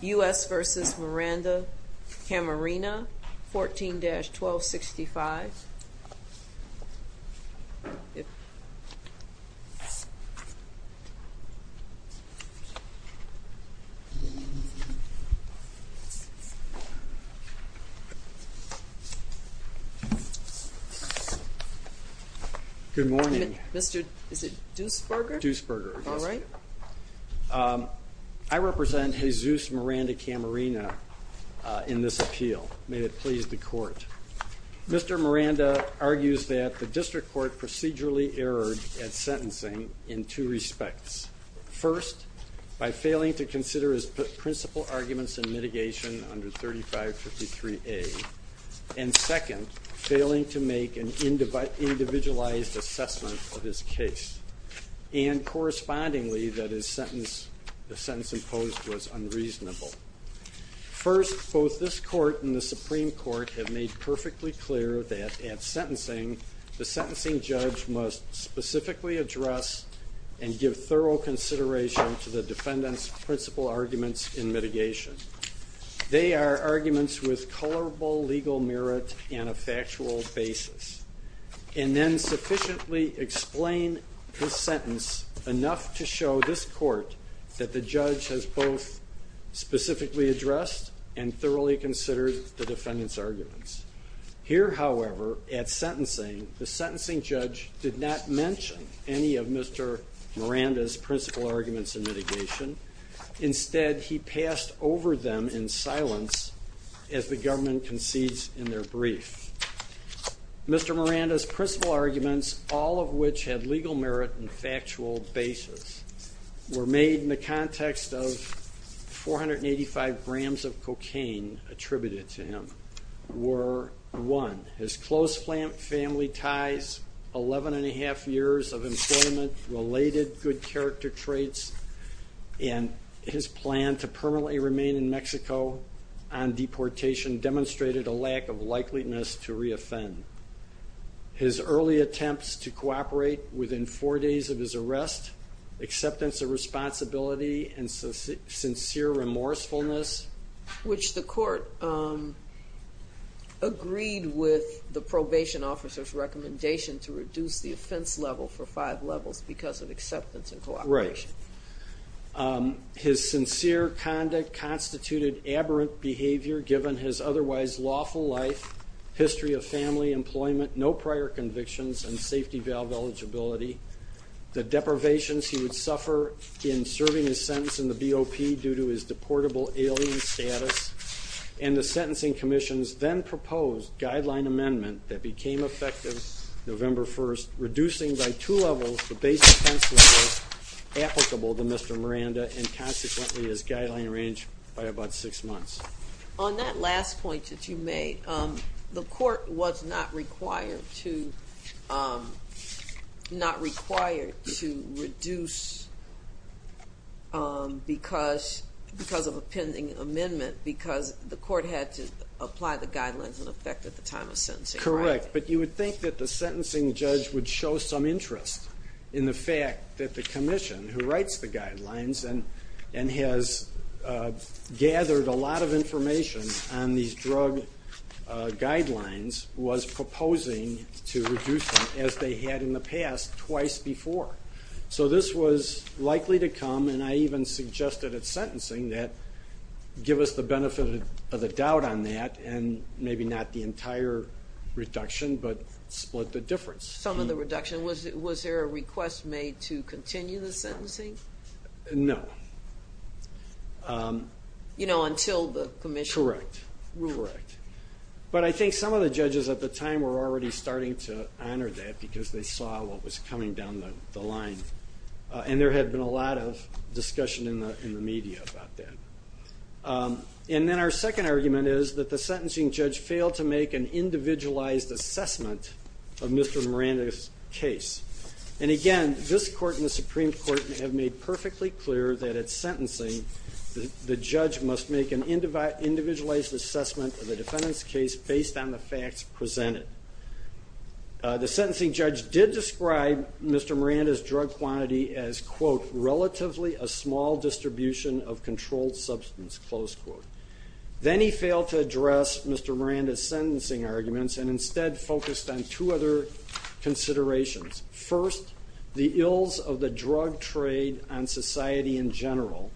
U.S. v. Miranda-Camarena 14-1265 Good morning. Is it Duesberger? Duesberger, yes. I represent Jesus Miranda-Camarena in this appeal. May it please the court. Mr. Miranda argues that the district court procedurally erred at sentencing in two respects. First, by failing to consider his principal arguments in mitigation under 3553A. And second, failing to make an individualized assessment of his case. And correspondingly, that the sentence imposed was unreasonable. First, both this court and the Supreme Court have made perfectly clear that at sentencing the sentencing judge must specifically address and give thorough consideration to the defendant's principal arguments in mitigation. They are arguments with colorable legal merit and a factual basis. And then sufficiently explain his sentence enough to show this court that the judge has both specifically addressed and thoroughly considered the defendant's arguments. Here, however, at sentencing, the sentencing judge did not mention any of Mr. Miranda's principal arguments in mitigation. Instead, he passed over them in silence as the government concedes in their brief. Mr. Miranda's principal arguments, all of which had legal merit and factual basis, were made in the context of 485 grams of cocaine attributed to him. Were, one, his close family ties, 11 1⁄2 years of employment, related good character traits, and his plan to permanently remain in Mexico on deportation demonstrated a lack of likeliness to reoffend. His early attempts to cooperate within four days of his arrest, acceptance of responsibility and sincere remorsefulness. Which the court agreed with the probation officer's recommendation to reduce the offense level for five levels because of acceptance and cooperation. Right. His sincere conduct constituted aberrant behavior given his otherwise lawful life, history of family, employment, no prior convictions, and safety valve eligibility. The deprivations he would suffer in serving his sentence in the BOP due to his deportable alien status. And the sentencing commission's then proposed guideline amendment that became effective November 1st, reducing by two levels the base offense level applicable to Mr. Miranda and consequently his guideline range by about six months. On that last point that you made, the court was not required to reduce because of a pending amendment because the court had to apply the guidelines in effect at the time of sentencing. Correct. But you would think that the sentencing judge would show some interest in the fact that the commission, who writes the guidelines and has gathered a lot of information on these drug guidelines, was proposing to reduce them as they had in the past twice before. So this was likely to come, and I even suggested at sentencing, that give us the benefit of the doubt on that and maybe not the entire reduction but split the difference. Some of the reduction. Was there a request made to continue the sentencing? No. Until the commission? Correct. Correct. But I think some of the judges at the time were already starting to honor that because they saw what was coming down the line. And there had been a lot of discussion in the media about that. And then our second argument is that the sentencing judge failed to make an individualized assessment of Mr. Miranda's case. And again, this court and the Supreme Court have made perfectly clear that at sentencing, the judge must make an individualized assessment of the defendant's case based on the facts presented. The sentencing judge did describe Mr. Miranda's drug quantity as, quote, relatively a small distribution of controlled substance, close quote. Then he failed to address Mr. Miranda's sentencing arguments and instead focused on two other considerations. First, the ills of the drug trade on society in general,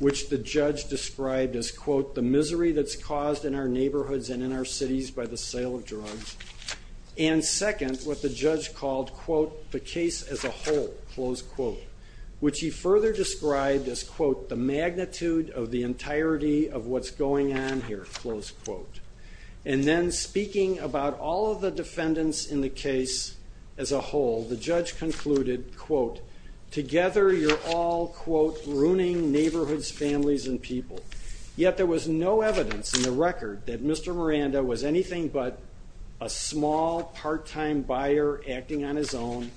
which the judge described as, quote, the misery that's caused in our neighborhoods and in our cities by the sale of drugs. And second, what the judge called, quote, the case as a whole, close quote, which he further described as, quote, the magnitude of the entirety of what's going on here, close quote. And then speaking about all of the defendants in the case as a whole, the judge concluded, quote, together you're all, quote, ruining neighborhoods, families, and people. Yet there was no evidence in the record that Mr. Miranda was anything but a small part-time buyer acting on his own.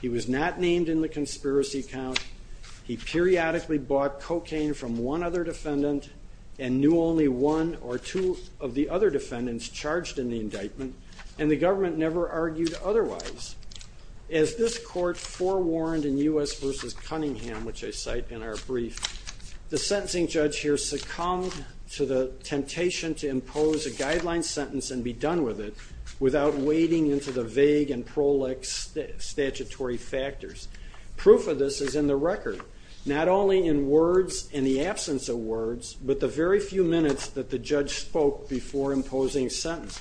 He was not named in the conspiracy count. He periodically bought cocaine from one other defendant and knew only one or two of the other defendants charged in the indictment, and the government never argued otherwise. As this court forewarned in U.S. v. Cunningham, which I cite in our brief, the sentencing judge here succumbed to the temptation to impose a guideline sentence and be done with it without wading into the vague and prolix statutory factors. Proof of this is in the record, not only in words and the absence of words, but the very few minutes that the judge spoke before imposing a sentence.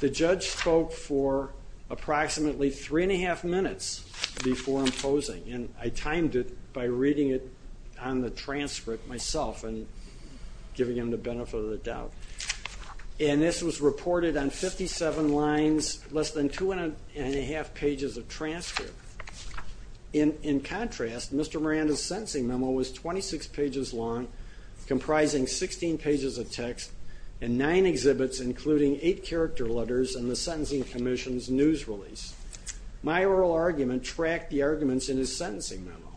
The judge spoke for approximately three and a half minutes before imposing, and I timed it by reading it on the transcript myself and giving him the benefit of the doubt. And this was reported on 57 lines, less than two and a half pages of transcript. In contrast, Mr. Miranda's sentencing memo was 26 pages long, comprising 16 pages of text, and nine exhibits including eight character letters and the sentencing commission's news release. My oral argument tracked the arguments in his sentencing memo,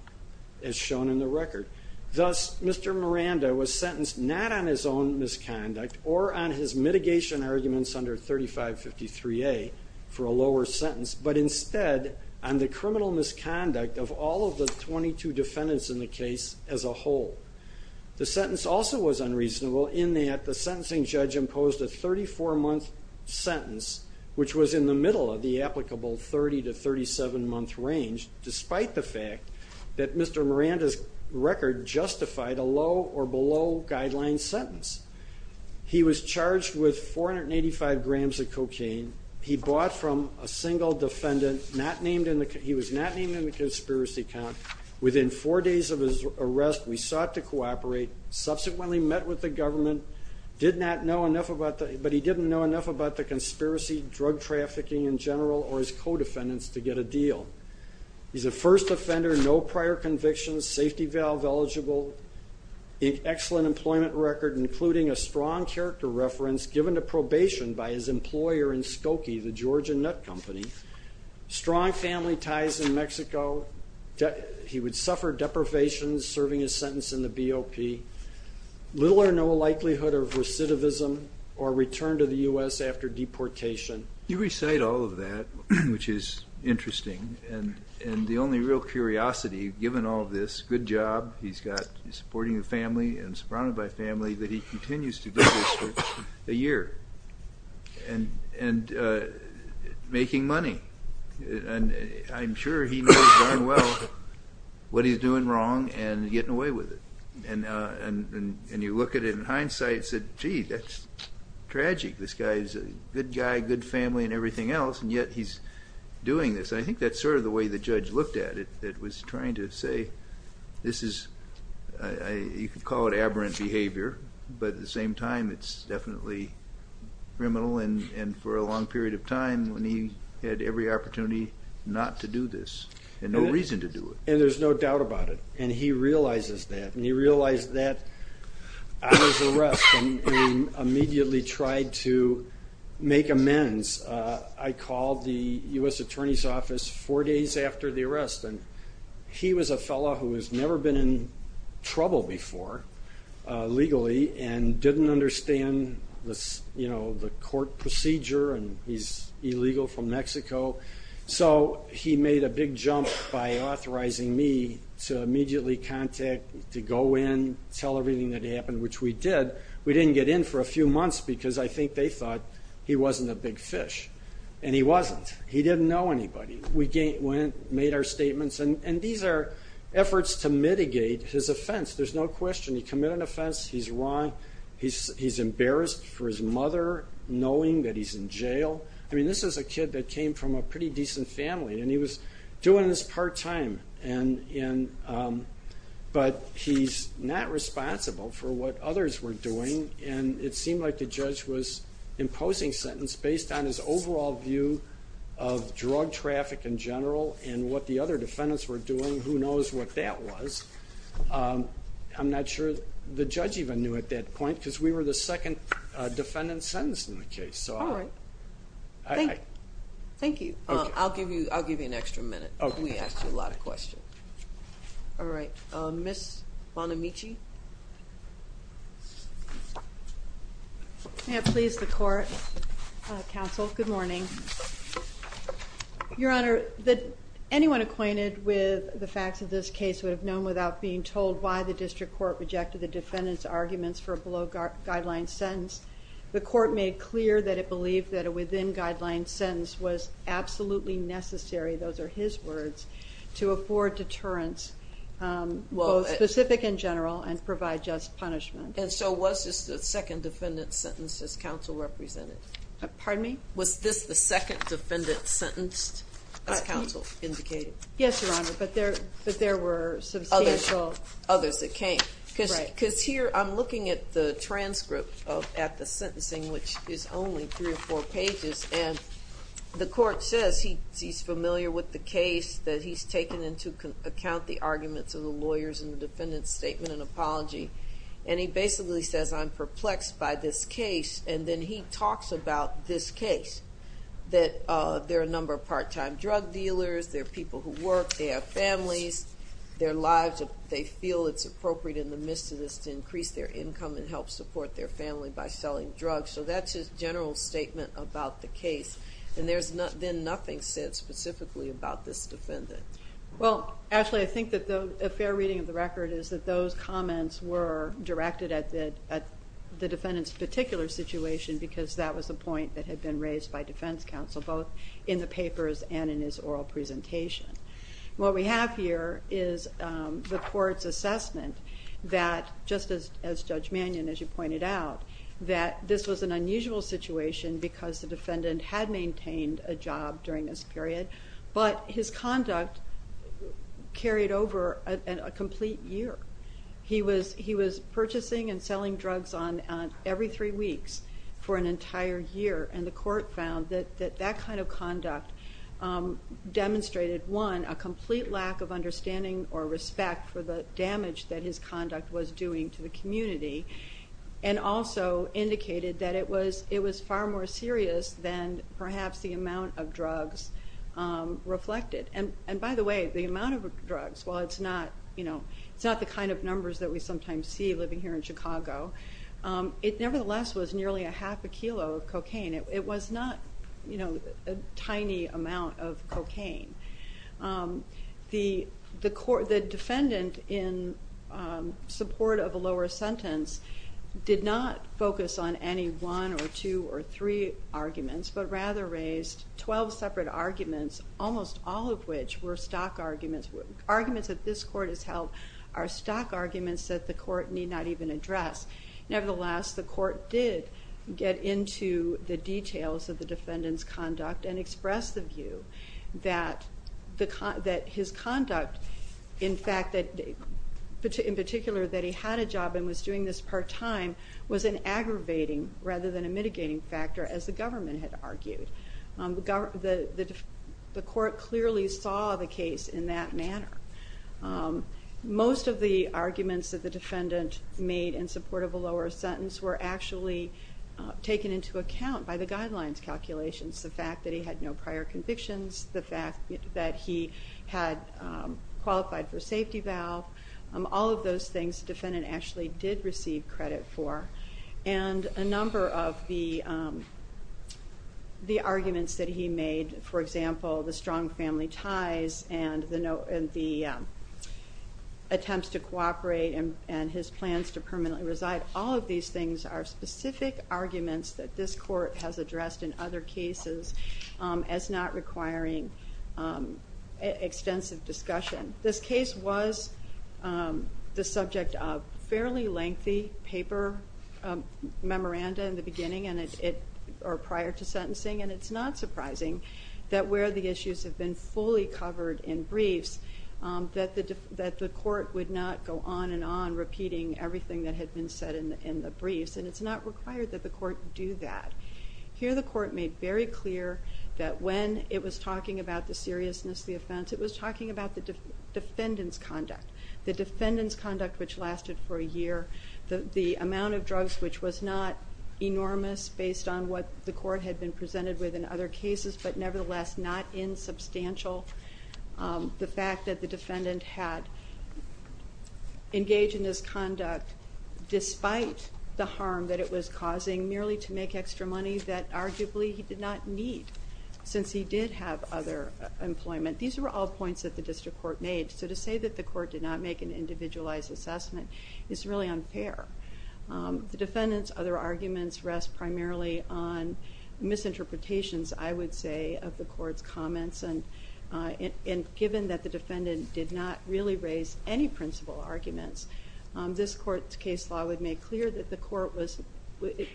as shown in the record. Thus, Mr. Miranda was sentenced not on his own misconduct or on his mitigation arguments under 3553A for a lower sentence, but instead on the criminal misconduct of all of the 22 defendants in the case as a whole. The sentence also was unreasonable in that the sentencing judge imposed a 34-month sentence, which was in the middle of the applicable 30 to 37-month range, despite the fact that Mr. Miranda's record justified a low or below guideline sentence. He was charged with 485 grams of cocaine. He bought from a single defendant. He was not named in the conspiracy count. Within four days of his arrest, we sought to cooperate, subsequently met with the government, but he didn't know enough about the conspiracy, drug trafficking in general, or his co-defendants to get a deal. He's a first offender, no prior convictions, safety valve eligible, excellent employment record, including a strong character reference given to probation by his employer in Skokie, the Georgian nut company, strong family ties in Mexico, he would suffer deprivations serving his sentence in the BOP, little or no likelihood of recidivism or return to the U.S. after deportation. You recite all of that, which is interesting, and the only real curiosity, given all of this, good job, he's got supporting the family and surrounded by family, that he continues to do this for a year. And making money. I'm sure he knows darn well what he's doing wrong and getting away with it. And you look at it in hindsight and say, gee, that's tragic. This guy is a good guy, good family, and everything else, and yet he's doing this. I think that's sort of the way the judge looked at it, that was trying to say this is, you could call it aberrant behavior, but at the same time it's definitely criminal, and for a long period of time when he had every opportunity not to do this and no reason to do it. And there's no doubt about it. And he realizes that, and he realized that on his arrest and immediately tried to make amends. I called the U.S. Attorney's Office four days after the arrest, and he was a fellow who has never been in trouble before legally and didn't understand the court procedure, and he's illegal from Mexico. So he made a big jump by authorizing me to immediately contact, to go in, tell everything that happened, which we did. We didn't get in for a few months because I think they thought he wasn't a big fish. And he wasn't. He didn't know anybody. We made our statements. And these are efforts to mitigate his offense. There's no question. He committed an offense. He's wrong. He's embarrassed for his mother, knowing that he's in jail. I mean, this is a kid that came from a pretty decent family, and he was doing this part-time. But he's not responsible for what others were doing, and it seemed like the judge was imposing sentence based on his overall view of drug traffic in general and what the other defendants were doing. Who knows what that was. I'm not sure the judge even knew at that point because we were the second defendant sentenced in the case. All right. Thank you. I'll give you an extra minute. We asked you a lot of questions. All right. Ms. Bonamici. May it please the court. Counsel, good morning. Your Honor, anyone acquainted with the facts of this case would have known without being told why the district court rejected the defendant's arguments for a below-guideline sentence. The court made clear that it believed that a within-guideline sentence was absolutely necessary, those are his words, to afford deterrence, both specific and general, and provide just punishment. And so was this the second defendant sentenced as counsel represented? Pardon me? Was this the second defendant sentenced as counsel indicated? Yes, Your Honor, but there were substantial others that came. Because here I'm looking at the transcript at the sentencing, which is only three or four pages, and the court says he's familiar with the case, that he's taken into account the arguments of the lawyers in the defendant's statement and apology, and he basically says, I'm perplexed by this case, and then he talks about this case, that there are a number of part-time drug dealers, there are people who work, they have families, their lives, they feel it's appropriate in the midst of this to increase their income and help support their family by selling drugs. So that's his general statement about the case, and there's then nothing said specifically about this defendant. Well, actually, I think that a fair reading of the record is that those comments were directed at the defendant's particular situation because that was the point that had been raised by defense counsel, both in the papers and in his oral presentation. What we have here is the court's assessment that, just as Judge Mannion, as you pointed out, that this was an unusual situation because the defendant had maintained a job during this period, but his conduct carried over a complete year. He was purchasing and selling drugs every three weeks for an entire year, and the court found that that kind of conduct demonstrated, one, a complete lack of understanding or respect for the damage that his conduct was doing to the community, and also indicated that it was far more serious than perhaps the amount of drugs reflected. And by the way, the amount of drugs, while it's not the kind of numbers that we sometimes see living here in Chicago, it nevertheless was nearly a half a kilo of cocaine. It was not a tiny amount of cocaine. The defendant, in support of a lower sentence, did not focus on any one or two or three arguments, but rather raised 12 separate arguments, almost all of which were stock arguments. Arguments that this court has held are stock arguments that the court need not even address. Nevertheless, the court did get into the details of the defendant's conduct and expressed the view that his conduct, in particular that he had a job and was doing this part-time, was an aggravating rather than a mitigating factor, as the government had argued. The court clearly saw the case in that manner. Most of the arguments that the defendant made in support of a lower sentence were actually taken into account by the guidelines calculations. The fact that he had no prior convictions, the fact that he had qualified for a safety valve, all of those things the defendant actually did receive credit for. And a number of the arguments that he made, for example, the strong family ties and the attempts to cooperate and his plans to permanently reside, all of these things are specific arguments that this court has addressed in other cases as not requiring extensive discussion. This case was the subject of a fairly lengthy paper memoranda in the beginning or prior to sentencing, and it's not surprising that where the issues have been fully covered in briefs, that the court would not go on and on repeating everything that had been said in the briefs, and it's not required that the court do that. Here the court made very clear that when it was talking about the seriousness of the offense, it was talking about the defendant's conduct, the defendant's conduct which lasted for a year, the amount of drugs which was not enormous based on what the court had been presented with in other cases, but nevertheless not insubstantial. The fact that the defendant had engaged in this conduct despite the harm that it was causing, merely to make extra money that arguably he did not need since he did have other employment. These were all points that the district court made, so to say that the court did not make an individualized assessment is really unfair. The defendant's other arguments rest primarily on misinterpretations, I would say, of the court's comments, and given that the defendant did not really raise any principal arguments, this court's case law would make clear that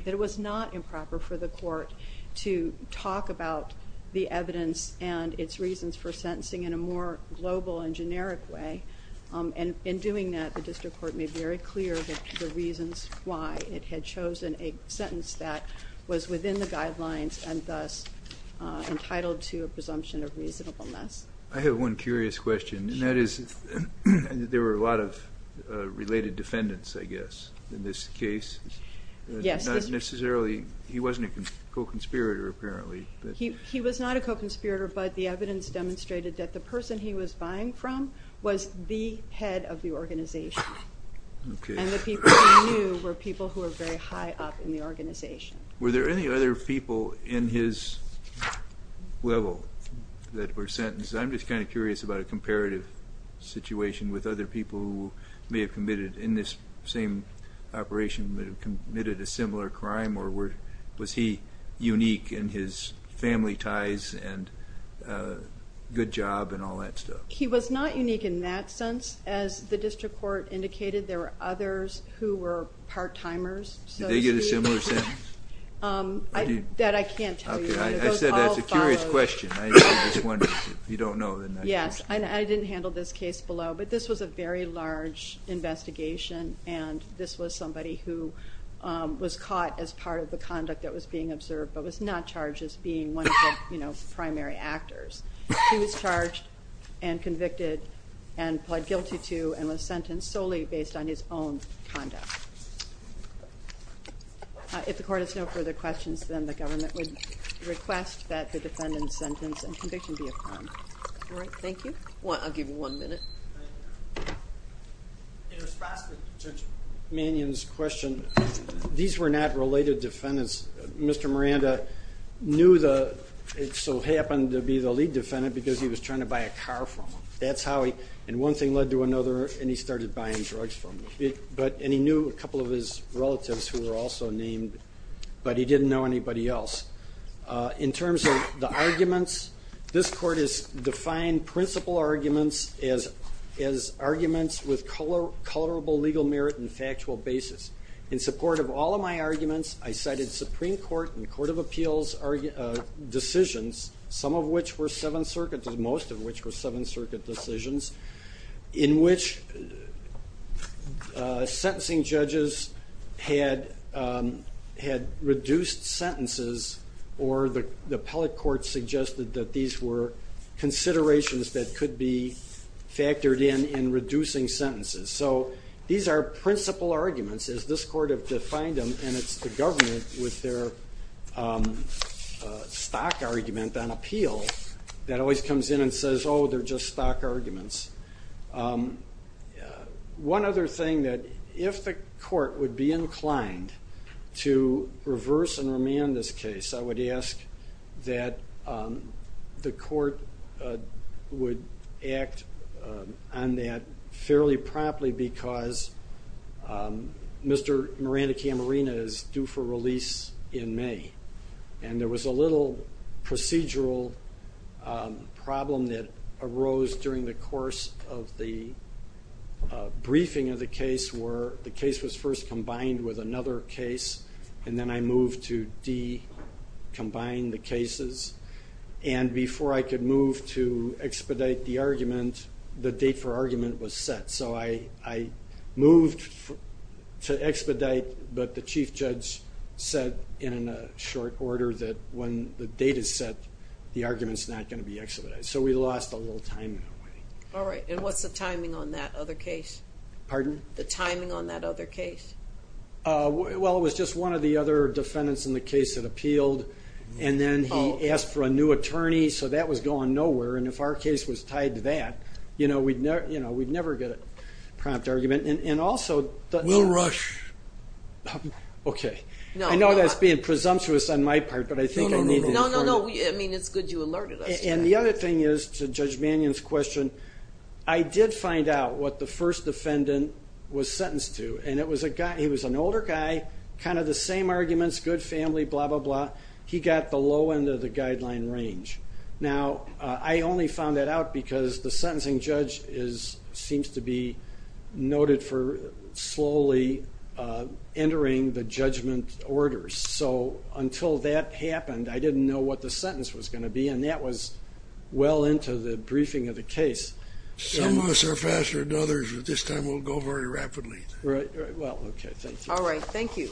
it was not improper for the court to talk about the evidence and its reasons for sentencing in a more global and generic way. In doing that, the district court made very clear the reasons why it had chosen a sentence that was within the guidelines and thus entitled to a presumption of reasonableness. I have one curious question, and that is there were a lot of related defendants, I guess, in this case. Yes. Not necessarily, he wasn't a co-conspirator apparently. He was not a co-conspirator, but the evidence demonstrated that the person he was buying from was the head of the organization, and the people he knew were people who were very high up in the organization. Were there any other people in his level that were sentenced? I'm just kind of curious about a comparative situation with other people who may have committed, in this same operation, may have committed a similar crime, or was he unique in his family ties and good job and all that stuff? He was not unique in that sense. As the district court indicated, there were others who were part-timers, so to speak. Did they get a similar sentence? That I can't tell you. Okay, I said that's a curious question. If you don't know, then I just can't. Yes, and I didn't handle this case below, but this was a very large investigation, and this was somebody who was caught as part of the conduct that was being observed but was not charged as being one of the primary actors. He was charged and convicted and pled guilty to and was sentenced solely based on his own conduct. If the court has no further questions, then the government would request that the defendant's sentence and conviction be affirmed. All right, thank you. I'll give you one minute. Thank you. In response to Judge Mannion's question, these were not related defendants. Mr. Miranda knew the, so happened to be the lead defendant because he was trying to buy a car from him. That's how he, and one thing led to another, and he started buying drugs from him. And he knew a couple of his relatives who were also named, but he didn't know anybody else. In terms of the arguments, this court has defined principal arguments as arguments with colorable legal merit and factual basis. In support of all of my arguments, I cited Supreme Court and Court of Appeals decisions, some of which were Seventh Circuit, most of which were Seventh Circuit decisions, in which sentencing judges had reduced sentences or the appellate court suggested that these were considerations that could be factored in in reducing sentences. So these are principal arguments, as this court have defined them, and it's the government with their stock argument on appeal that always comes in and says, oh, they're just stock arguments. One other thing, that if the court would be inclined to reverse and remand this case, I would ask that the court would act on that fairly promptly because Mr. Miranda Camarena is due for release in May, and there was a little procedural problem that arose during the course of the briefing of the case where the case was first combined with another case, and then I moved to decombine the cases, and before I could move to expedite the argument, the date for argument was set. So I moved to expedite, but the chief judge said in a short order that when the date is set, the argument's not going to be expedited. So we lost a little time in that way. The timing on that other case? Well, it was just one of the other defendants in the case that appealed, and then he asked for a new attorney, so that was going nowhere, and if our case was tied to that, we'd never get a prompt argument. We'll rush. Okay. I know that's being presumptuous on my part, but I think I need to inform you. No, no, no. I mean, it's good you alerted us. And the other thing is, to Judge Mannion's question, I did find out what the first defendant was sentenced to, and he was an older guy, kind of the same arguments, good family, blah, blah, blah. He got the low end of the guideline range. Now, I only found that out because the sentencing judge seems to be noted for slowly entering the judgment orders. So until that happened, I didn't know what the sentence was going to be, and that was well into the briefing of the case. Some of us are faster than others, but this time we'll go very rapidly. All right. Thank you.